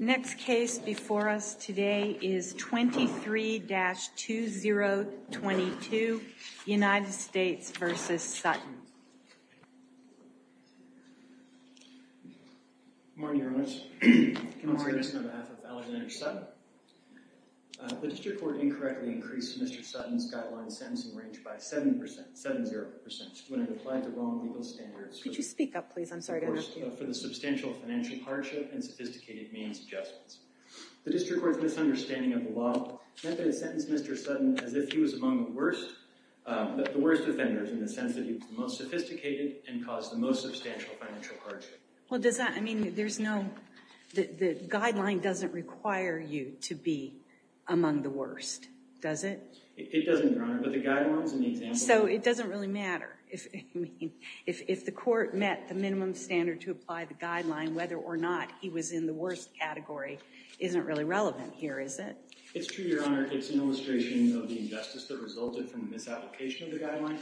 Next case before us today is 23-2022, United States v. Sutton. Good morning, Your Honor. I want to speak on behalf of Alexander Sutton. The district court incorrectly increased Mr. Sutton's guideline sentencing range by 7%, 7-0%, when it applied to wrong legal standards. Could you speak up, please? I'm sorry to have to. It was the worst for the substantial financial hardship and sophisticated means adjustments. The district court's misunderstanding of the law meant that it sentenced Mr. Sutton as if he was among the worst offenders, in the sense that he was the most sophisticated and caused the most substantial financial hardship. Well, does that—I mean, there's no—the guideline doesn't require you to be among the worst, does it? It doesn't, Your Honor, but the guidelines and the examples— So it doesn't really matter if—I mean, if the court met the minimum standard to apply the guideline, whether or not he was in the worst category isn't really relevant here, is it? It's true, Your Honor. It's an illustration of the injustice that resulted from the misapplication of the guideline,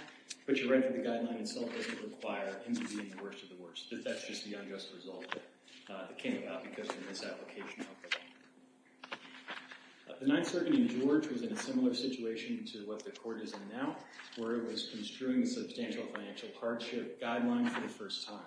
but your right to the guideline itself doesn't require him to be in the worst of the worst. That's just the unjust result that came about because of the misapplication of the guideline. The Ninth Circuit in George was in a similar situation to what the court is in now, where it was construing a substantial financial hardship guideline for the first time.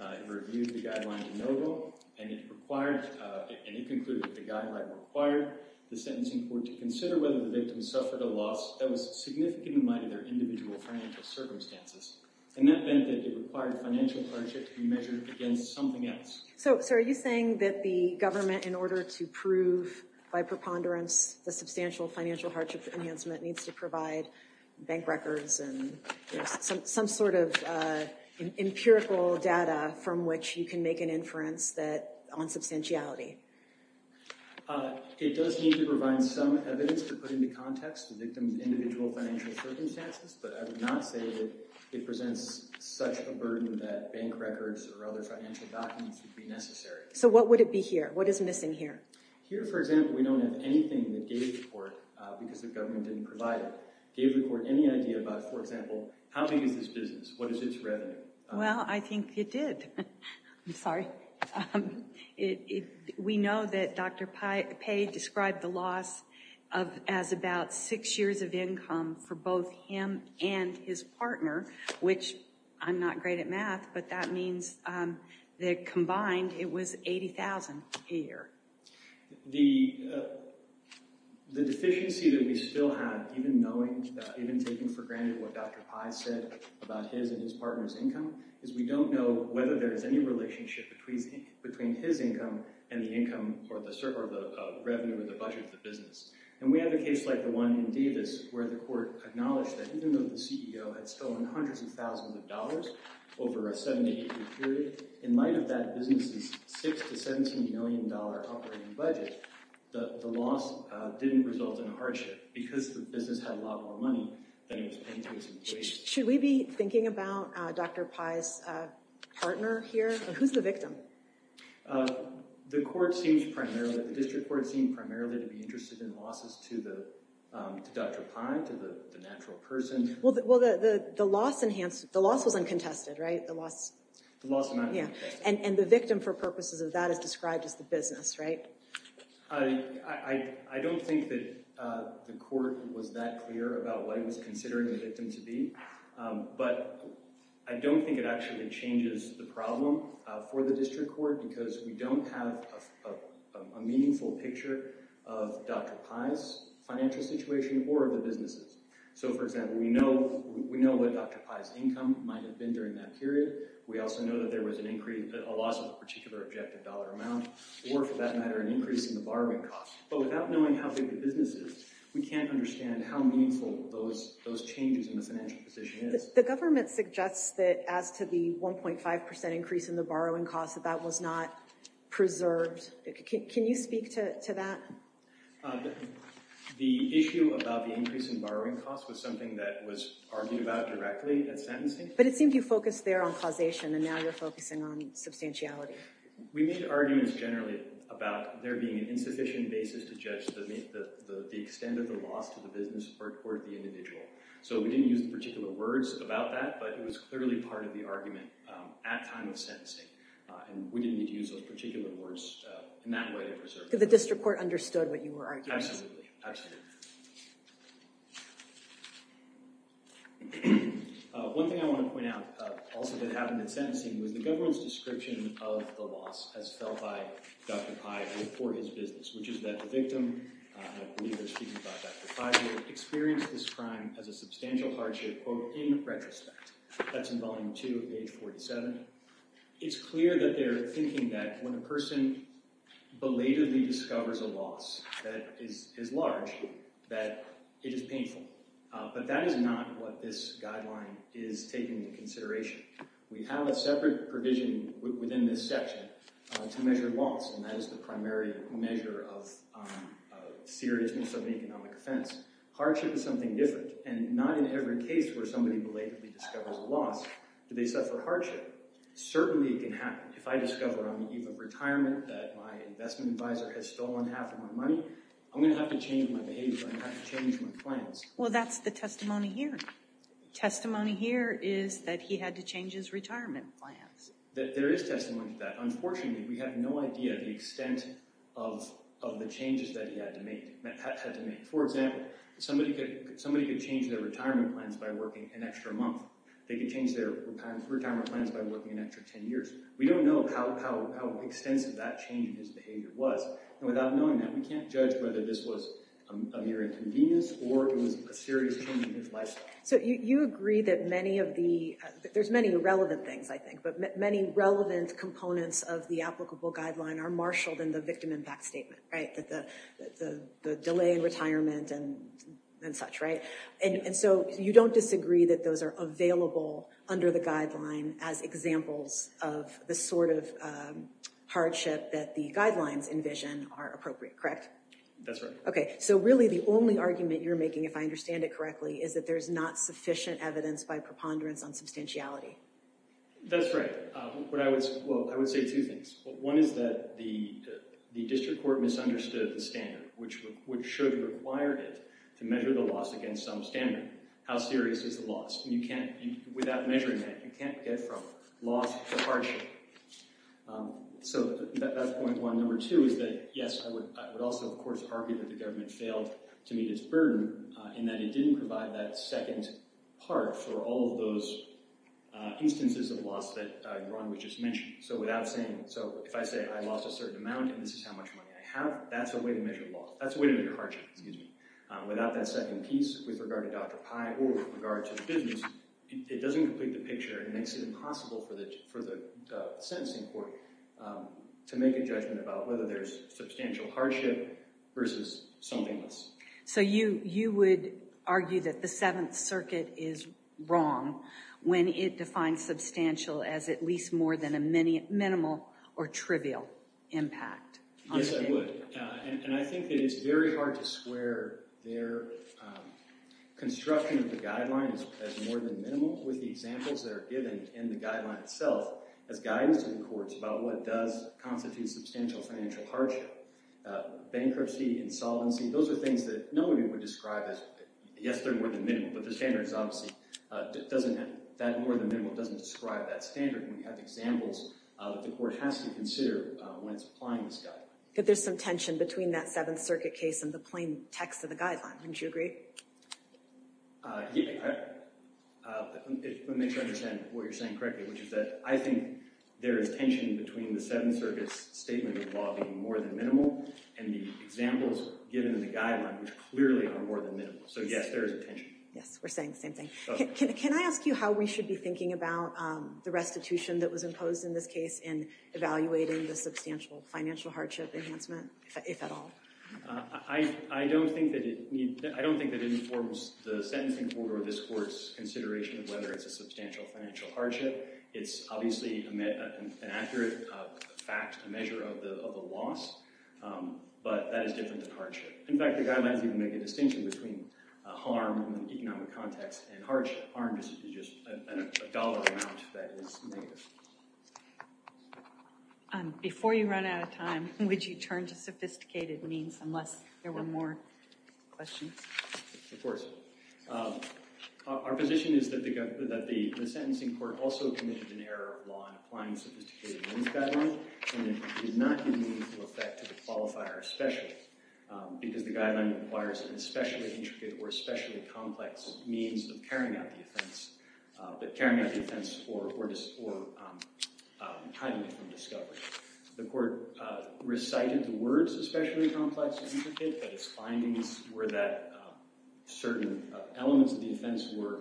It reviewed the guideline de novo, and it required—and it concluded that the guideline required the sentencing court to consider whether the victim suffered a loss that was significant in light of their individual financial circumstances. And that meant that it required financial hardship to be measured against something else. So are you saying that the government, in order to prove by preponderance the substantial financial hardship enhancement, needs to provide bank records and some sort of empirical data from which you can make an inference on substantiality? It does need to provide some evidence to put into context the victim's individual financial circumstances, but I would not say that it presents such a burden that bank records or other financial documents would be necessary. So what would it be here? What is missing here? Here, for example, we don't have anything that gave the court, because the government didn't provide it, gave the court any idea about, for example, how big is this business? What is its revenue? Well, I think it did. I'm sorry. We know that Dr. Pei described the loss as about six years of income for both him and his partner, which I'm not great at math, but that means that combined it was $80,000 a year. The deficiency that we still have, even taking for granted what Dr. Pei said about his and his partner's income, is we don't know whether there is any relationship between his income and the income or the revenue or the budget of the business. And we have a case like the one in Davis where the court acknowledged that even though the CEO had stolen hundreds of thousands of dollars over a seven-to-eight-year period, in light of that business's $6 to $17 million operating budget, the loss didn't result in a hardship because the business had a lot more money than it was paying to its employees. Should we be thinking about Dr. Pei's partner here? Who's the victim? The district court seemed primarily to be interested in losses to Dr. Pei, to the natural person. Well, the loss was uncontested, right? The loss was not uncontested. And the victim, for purposes of that, is described as the business, right? I don't think that the court was that clear about what it was considering the victim to be. But I don't think it actually changes the problem for the district court because we don't have a meaningful picture of Dr. Pei's financial situation or the business's. So, for example, we know what Dr. Pei's income might have been during that period. We also know that there was a loss of a particular objective dollar amount or, for that matter, an increase in the borrowing costs. But without knowing how big the business is, we can't understand how meaningful those changes in the financial position is. The government suggests that as to the 1.5 percent increase in the borrowing costs, that that was not preserved. Can you speak to that? The issue about the increase in borrowing costs was something that was argued about directly at sentencing. But it seemed you focused there on causation, and now you're focusing on substantiality. We made arguments generally about there being an insufficient basis to judge the extent of the loss to the business or toward the individual. So we didn't use the particular words about that, but it was clearly part of the argument at time of sentencing. And we didn't need to use those particular words in that way to preserve it. So the district court understood what you were arguing. Absolutely. Absolutely. Thank you. One thing I want to point out also that happened at sentencing was the government's description of the loss as felt by Dr. Pai for his business, which is that the victim—I believe they're speaking about Dr. Pai here—experienced this crime as a substantial hardship, quote, in retrospect. That's in Volume 2, page 47. It's clear that they're thinking that when a person belatedly discovers a loss that is large, that it is painful. But that is not what this guideline is taking into consideration. We have a separate provision within this section to measure loss, and that is the primary measure of seriousness of an economic offense. Hardship is something different, and not in every case where somebody belatedly discovers a loss do they suffer hardship. Certainly it can happen. If I discover on the eve of retirement that my investment advisor has stolen half of my money, I'm going to have to change my behavior. I'm going to have to change my plans. Well, that's the testimony here. Testimony here is that he had to change his retirement plans. There is testimony to that. Unfortunately, we have no idea the extent of the changes that he had to make. For example, somebody could change their retirement plans by working an extra month. They could change their retirement plans by working an extra 10 years. We don't know how extensive that change in his behavior was. And without knowing that, we can't judge whether this was a mere inconvenience or it was a serious change in his lifestyle. So you agree that many of the—there's many relevant things, I think, but many relevant components of the applicable guideline are marshaled in the victim impact statement, right? The delay in retirement and such, right? And so you don't disagree that those are available under the guideline as examples of the sort of hardship that the guidelines envision are appropriate, correct? That's right. Okay, so really the only argument you're making, if I understand it correctly, is that there's not sufficient evidence by preponderance on substantiality. That's right. What I would—well, I would say two things. One is that the district court misunderstood the standard, which should require it to measure the loss against some standard. How serious is the loss? And you can't—without measuring that, you can't get from loss to hardship. So that's point one. Number two is that, yes, I would also, of course, argue that the government failed to meet its burden in that it didn't provide that second part for all of those instances of loss that Ron would just mention. So without saying—so if I say I lost a certain amount and this is how much money I have, that's a way to measure loss. That's a way to measure hardship, excuse me. Without that second piece with regard to Dr. Pye or with regard to the business, it doesn't complete the picture and makes it impossible for the sentencing court to make a judgment about whether there's substantial hardship versus something less. So you would argue that the Seventh Circuit is wrong when it defines substantial as at least more than a minimal or trivial impact? Yes, I would. And I think that it's very hard to square their construction of the guidelines as more than minimal with the examples that are given in the guideline itself as guidance to the courts about what does constitute substantial financial hardship. Bankruptcy, insolvency, those are things that no one would describe as—yes, they're more than minimal, but the standards obviously doesn't—that more than minimal doesn't describe that standard. And we have examples that the court has to consider when it's applying this guideline. But there's some tension between that Seventh Circuit case and the plain text of the guideline, wouldn't you agree? Yeah. Let me make sure I understand what you're saying correctly, which is that I think there is tension between the Seventh Circuit's statement involving more than minimal and the examples given in the guideline, which clearly are more than minimal. So yes, there is a tension. Yes, we're saying the same thing. Can I ask you how we should be thinking about the restitution that was imposed in this case in evaluating the substantial financial hardship enhancement, if at all? I don't think that it informs the sentencing order or this court's consideration of whether it's a substantial financial hardship. It's obviously an accurate fact, a measure of the loss, but that is different than hardship. In fact, the guidelines even make a distinction between harm in an economic context and hardship. Harm is just a dollar amount that is negative. Before you run out of time, would you turn to sophisticated means, unless there were more questions? Of course. Our position is that the sentencing court also committed an error of law in applying the sophisticated means guideline, and it is not in meaningful effect to the qualifier especially, because the guideline requires an especially intricate or especially complex means of carrying out the offense or hiding it from discovery. The court recited the words especially complex and intricate, but its findings were that certain elements of the offense were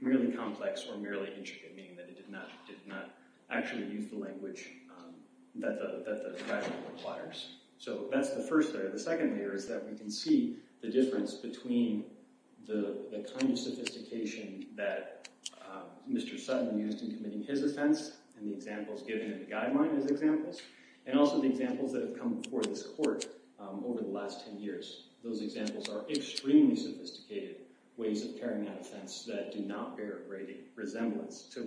merely complex or merely intricate, meaning that it did not actually use the language that the guideline requires. So that's the first layer. The second layer is that we can see the difference between the kind of sophistication that Mr. Sutton used in committing his offense and the examples given in the guideline as examples, and also the examples that have come before this court over the last 10 years. Those examples are extremely sophisticated ways of carrying out offense that do not bear a great resemblance to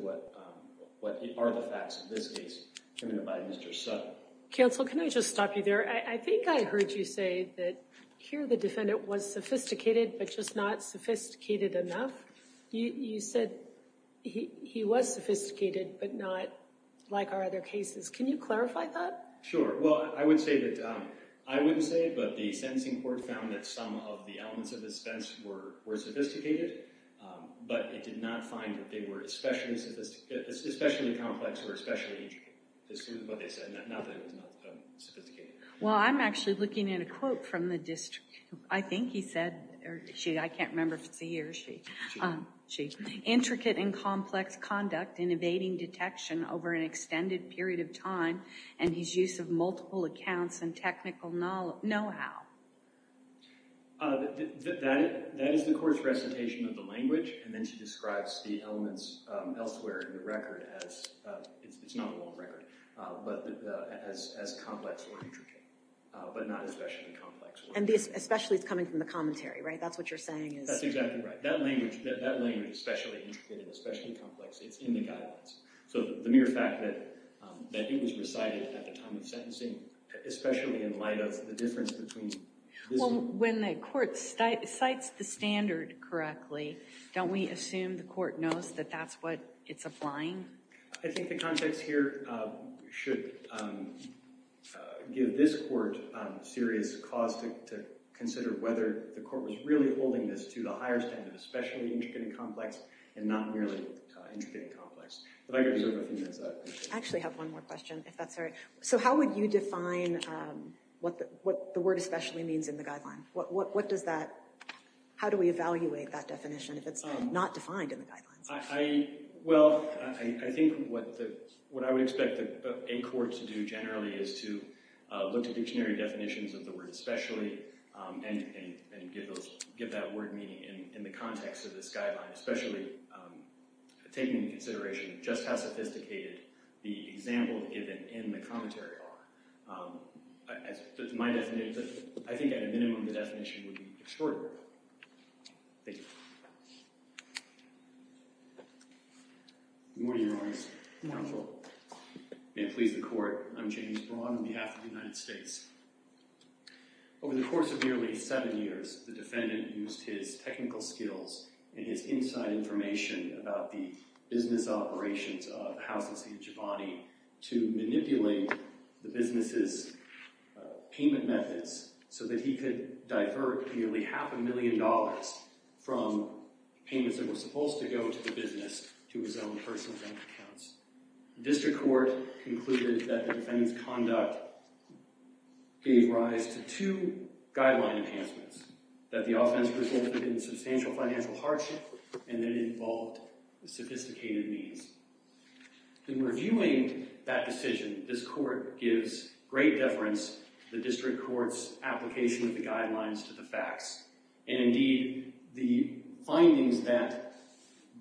what are the facts of this case committed by Mr. Sutton. Counsel, can I just stop you there? I think I heard you say that here the defendant was sophisticated, but just not sophisticated enough. You said he was sophisticated, but not like our other cases. Can you clarify that? Sure. Well, I wouldn't say it, but the sentencing court found that some of the elements of the defense were sophisticated, but it did not find that they were especially complex or especially intricate. Well, I'm actually looking at a quote from the district. I think he said, I can't remember if it's he or she, intricate and complex conduct in evading detection over an extended period of time and his use of multiple accounts and technical know-how. That is the court's recitation of the language, and then she describes the elements elsewhere in the record as, it's not a long record, but as complex or intricate, but not especially complex. And especially it's coming from the commentary, right? That's what you're saying? That's exactly right. That language, especially intricate and especially complex, it's in the guidelines. So the mere fact that it was recited at the time of sentencing, especially in light of the difference between... Well, when the court cites the standard correctly, don't we assume the court knows that that's what it's applying? I think the context here should give this court serious cause to consider whether the court was really holding this to the higher standard, especially intricate and complex, and not merely intricate and complex. I actually have one more question, if that's all right. So how would you define what the word especially means in the guideline? What does that, how do we evaluate that definition if it's not defined in the guidelines? Well, I think what I would expect a court to do generally is to look to dictionary definitions of the word especially and give that word meaning in the context of this guideline, especially taking into consideration just how sophisticated the example given in the commentary are. That's my definition, but I think at a minimum the definition would be extraordinary. Thank you. Good morning, Your Honor. Good morning, Your Honor. May it please the court, I'm James Braun on behalf of the United States. Over the course of nearly seven years, the defendant used his technical skills and his inside information about the business operations of houses in Giovanni to manipulate the business's payment methods so that he could divert nearly half a million dollars from payments that were supposed to go to the business to his own personal bank accounts. The district court concluded that the defendant's conduct gave rise to two guideline enhancements, that the offense resulted in substantial financial hardship and that it involved sophisticated means. In reviewing that decision, this court gives great deference to the district court's application of the guidelines to the facts. And indeed, the findings that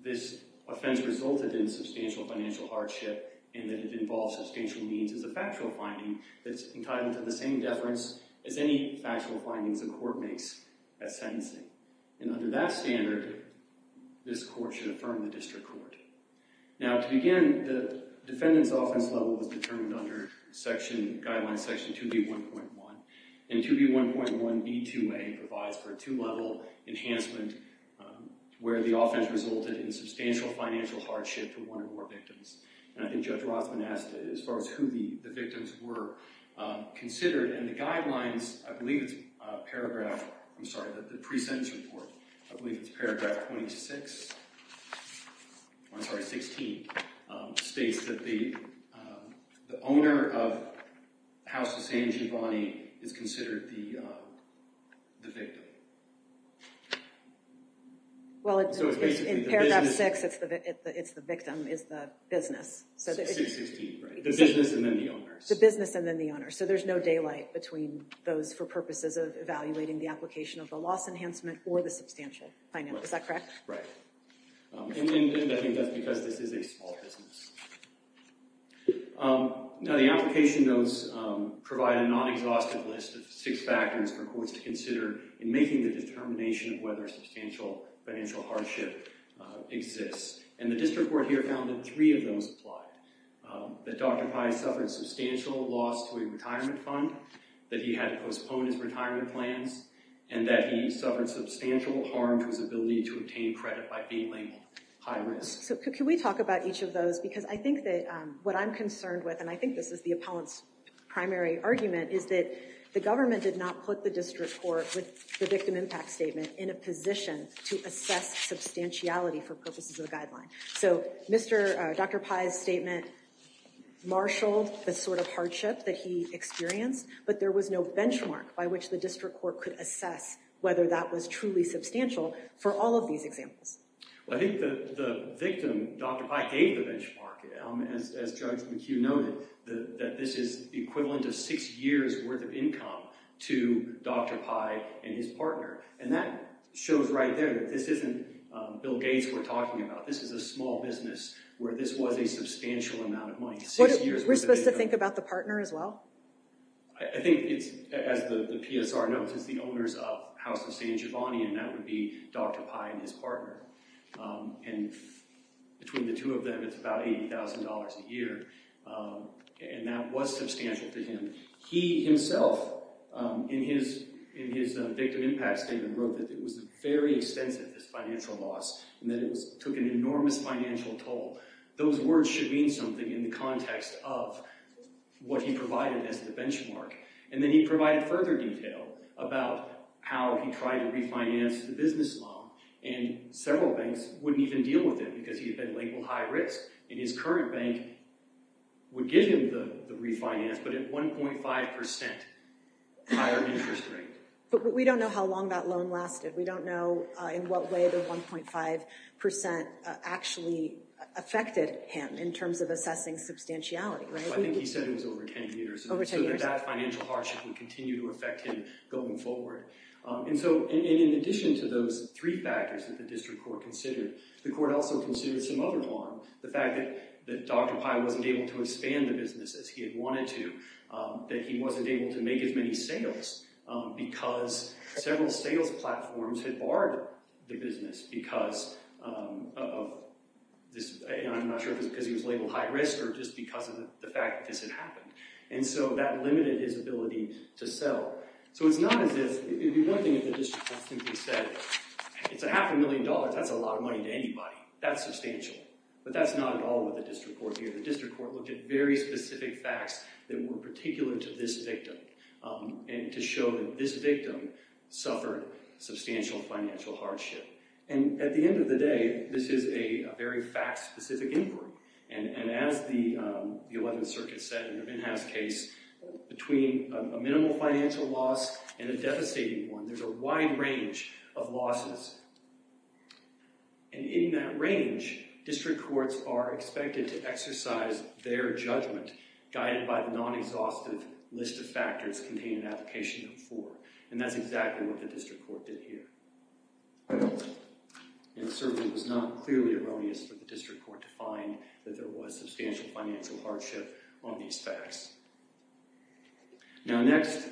this offense resulted in substantial financial hardship and that it involved substantial means is a factual finding that's entitled to the same deference as any factual findings a court makes at sentencing. And under that standard, this court should affirm the district court. Now, to begin, the defendant's offense level was determined under section, guideline section 2B1.1. And 2B1.1b2a provides for a two-level enhancement where the offense resulted in substantial financial hardship to one or more victims. And I think Judge Rossman asked as far as who the victims were considered. And the guidelines, I believe it's paragraph, I'm sorry, the pre-sentence report, I believe it's paragraph 26, I'm sorry, 16, states that the owner of House of St. Giovanni is considered the victim. Well, it's in paragraph 6, it's the victim is the business. The business and then the owner. The business and then the owner. So there's no daylight between those for purposes of evaluating the application of the loss enhancement or the substantial financial, is that correct? Right. And I think that's because this is a small business. Now, the application does provide a non-exhaustive list of six factors for courts to consider in making the determination of whether substantial financial hardship exists. And the district court here found that three of those apply. That Dr. Pye suffered substantial loss to a retirement fund, that he had postponed his retirement plans, and that he suffered substantial harm to his ability to obtain credit by being labeled high risk. So can we talk about each of those? Because I think that what I'm concerned with, and I think this is the opponent's primary argument, is that the government did not put the district court with the victim impact statement in a position to assess substantiality for purposes of the guideline. So Dr. Pye's statement marshaled the sort of hardship that he experienced, but there was no benchmark by which the district court could assess whether that was truly substantial for all of these examples. Well, I think that the victim, Dr. Pye, gave the benchmark. As Judge McHugh noted, that this is the equivalent of six years worth of income to Dr. Pye and his partner. And that shows right there that this isn't Bill Gates we're talking about. This is a small business where this was a substantial amount of money. We're supposed to think about the partner as well? I think it's, as the PSR notes, it's the owners of House of San Giovanni, and that would be Dr. Pye and his partner. And between the two of them, it's about $80,000 a year. And that was substantial to him. He himself, in his victim impact statement, wrote that it was very extensive, this financial loss, and that it took an enormous financial toll. Those words should mean something in the context of what he provided as the benchmark. And then he provided further detail about how he tried to refinance the business loan, and several banks wouldn't even deal with it because he had been labeled high risk. And his current bank would give him the refinance, but at 1.5% higher interest rate. But we don't know how long that loan lasted. We don't know in what way the 1.5% actually affected him in terms of assessing substantiality. I think he said it was over 10 years. Over 10 years. So that financial hardship would continue to affect him going forward. And so in addition to those three factors that the district court considered, the court also considered some other one. The fact that Dr. Pye wasn't able to expand the business as he had wanted to. That he wasn't able to make as many sales because several sales platforms had barred the business because of this. I'm not sure if it was because he was labeled high risk or just because of the fact that this had happened. And so that limited his ability to sell. So it's not as if—one thing that the district court simply said, it's a half a million dollars. That's a lot of money to anybody. That's substantial. But that's not at all what the district court did. The district court looked at very specific facts that were particular to this victim. And to show that this victim suffered substantial financial hardship. And at the end of the day, this is a very fact-specific inquiry. And as the 11th Circuit said in the Van Haas case, between a minimal financial loss and a devastating one, there's a wide range of losses. And in that range, district courts are expected to exercise their judgment. Guided by the non-exhaustive list of factors containing an application of four. And that's exactly what the district court did here. And certainly it was not clearly erroneous for the district court to find that there was substantial financial hardship on these facts. Now next,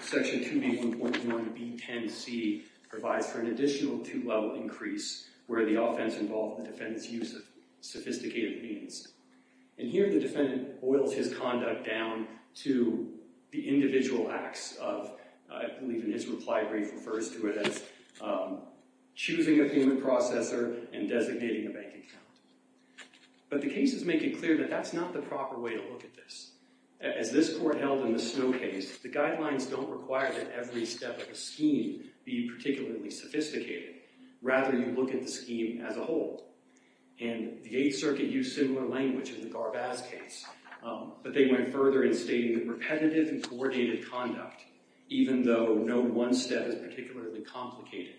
Section 2B1.1B10C provides for an additional two-level increase where the offense involved the defendant's use of sophisticated means. And here the defendant boils his conduct down to the individual acts of—I believe in his reply brief refers to it as choosing a payment processor and designating a bank account. But the cases make it clear that that's not the proper way to look at this. As this court held in the Snow case, the guidelines don't require that every step of the scheme be particularly sophisticated. Rather, you look at the scheme as a whole. And the 8th Circuit used similar language in the Garbaz case. But they went further in stating that repetitive and coordinated conduct, even though no one step is particularly complicated,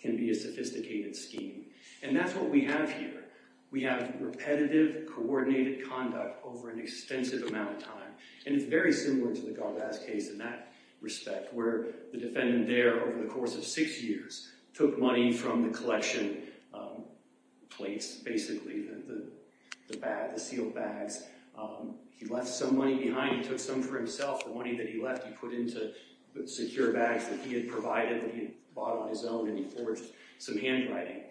can be a sophisticated scheme. And that's what we have here. We have repetitive, coordinated conduct over an extensive amount of time. And it's very similar to the Garbaz case in that respect, where the defendant there, over the course of six years, took money from the collection plates, basically, the sealed bags. He left some money behind. He took some for himself. The money that he left he put into secure bags that he had provided that he had bought on his own, and he forged some handwriting.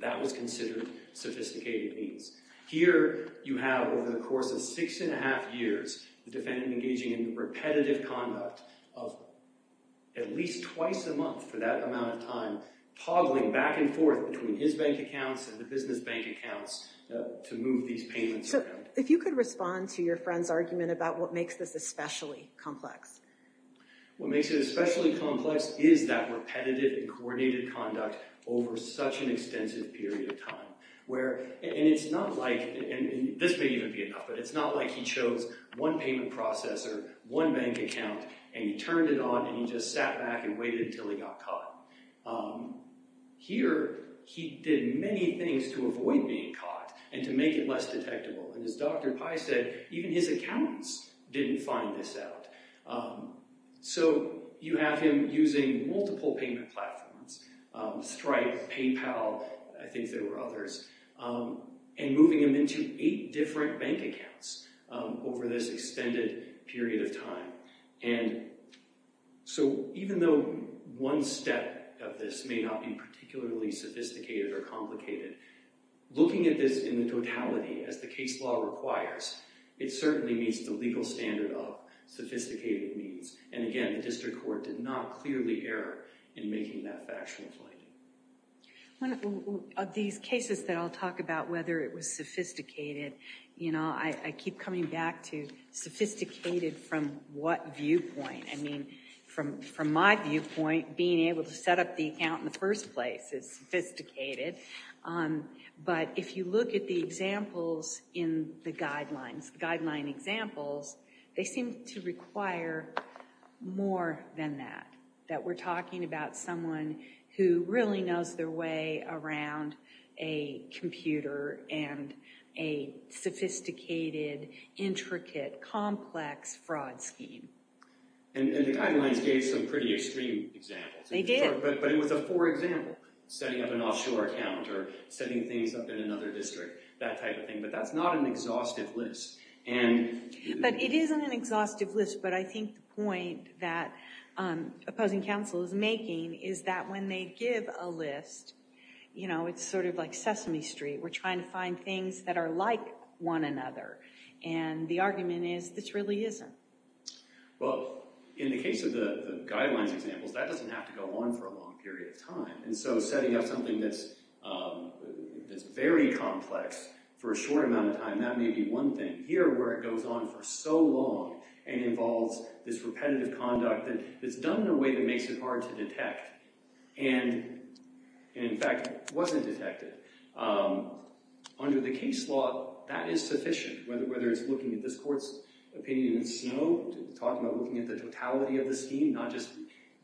That was considered sophisticated means. Here you have, over the course of six and a half years, the defendant engaging in repetitive conduct of at least twice a month for that amount of time, toggling back and forth between his bank accounts and the business bank accounts to move these payments around. So, if you could respond to your friend's argument about what makes this especially complex. What makes it especially complex is that repetitive and coordinated conduct over such an extensive period of time. And it's not like, and this may even be enough, but it's not like he chose one payment processor, one bank account, and he turned it on and he just sat back and waited until he got caught. Here, he did many things to avoid being caught and to make it less detectable. And as Dr. Pye said, even his accountants didn't find this out. So, you have him using multiple payment platforms, Stripe, PayPal, I think there were others, and moving them into eight different bank accounts over this extended period of time. And so, even though one step of this may not be particularly sophisticated or complicated, looking at this in the totality as the case law requires, it certainly meets the legal standard of sophisticated means. And again, the district court did not clearly err in making that factual finding. One of these cases that I'll talk about, whether it was sophisticated, you know, I keep coming back to sophisticated from what viewpoint? I mean, from my viewpoint, being able to set up the account in the first place is sophisticated. But if you look at the examples in the guidelines, guideline examples, they seem to require more than that. That we're talking about someone who really knows their way around a computer and a sophisticated, intricate, complex fraud scheme. And the guidelines gave some pretty extreme examples. They did. But it was a poor example, setting up an offshore account or setting things up in another district, that type of thing. But that's not an exhaustive list. But it isn't an exhaustive list, but I think the point that opposing counsel is making is that when they give a list, you know, it's sort of like Sesame Street. We're trying to find things that are like one another. And the argument is, this really isn't. Well, in the case of the guidelines examples, that doesn't have to go on for a long period of time. And so setting up something that's very complex for a short amount of time, that may be one thing. Here, where it goes on for so long and involves this repetitive conduct that's done in a way that makes it hard to detect and, in fact, wasn't detected. Under the case law, that is sufficient. Whether it's looking at this court's opinion in snow, talking about looking at the totality of the scheme, not just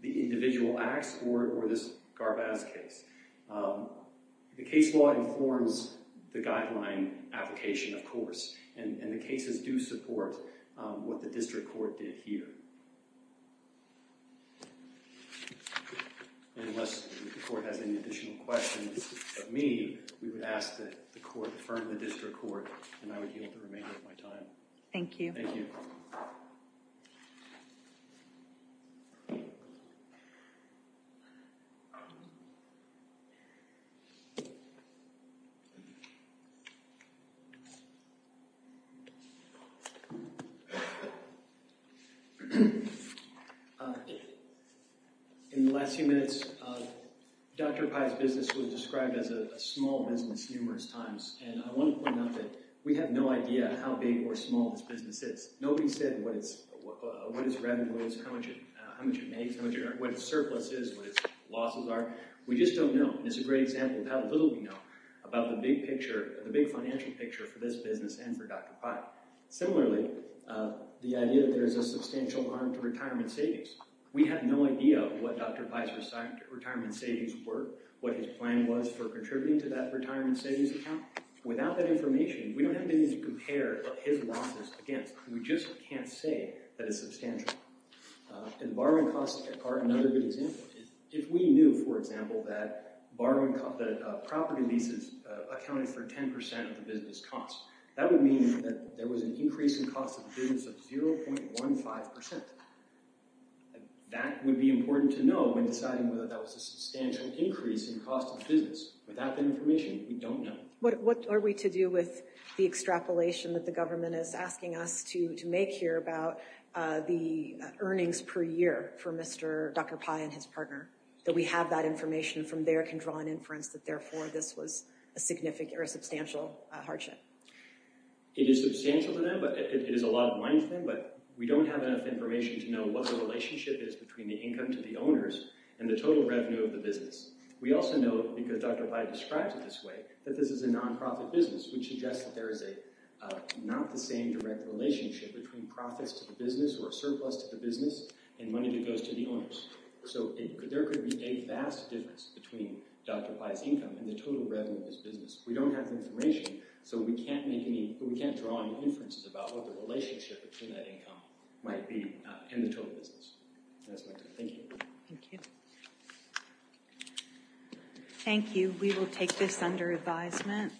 the individual acts, or this Garbaz case. The case law informs the guideline application, of course. And the cases do support what the district court did here. Unless the court has any additional questions of me, we would ask that the court affirm the district court, and I would yield the remainder of my time. Thank you. Thank you. In the last few minutes, Dr. Pai's business was described as a small business numerous times. And I want to point out that we have no idea how big or small this business is. Nobody said what its revenue is, how much it makes, what its surplus is, what its losses are. We just don't know. And it's a great example of how little we know about the big financial picture for this business and for Dr. Pai. Similarly, the idea that there is a substantial harm to retirement savings. We have no idea what Dr. Pai's retirement savings were, what his plan was for contributing to that retirement savings account. Without that information, we don't have anything to compare his losses against. We just can't say that it's substantial. And borrowing costs are another good example. If we knew, for example, that property leases accounted for 10% of the business cost, that would mean that there was an increase in cost of the business of 0.15%. That would be important to know when deciding whether that was a substantial increase in cost of the business. Without that information, we don't know. What are we to do with the extrapolation that the government is asking us to make here about the earnings per year for Dr. Pai and his partner? That we have that information from there can draw an inference that, therefore, this was a substantial hardship. It is substantial to them, but it is a lot of money for them. But we don't have enough information to know what the relationship is between the income to the owners and the total revenue of the business. We also know, because Dr. Pai describes it this way, that this is a nonprofit business, which suggests that there is not the same direct relationship between profits to the business or surplus to the business and money that goes to the owners. So there could be a vast difference between Dr. Pai's income and the total revenue of this business. We don't have the information, so we can't draw any inferences about what the relationship between that income might be in the total business. That's my conclusion. Thank you. Thank you. Thank you. We will take this under advisement.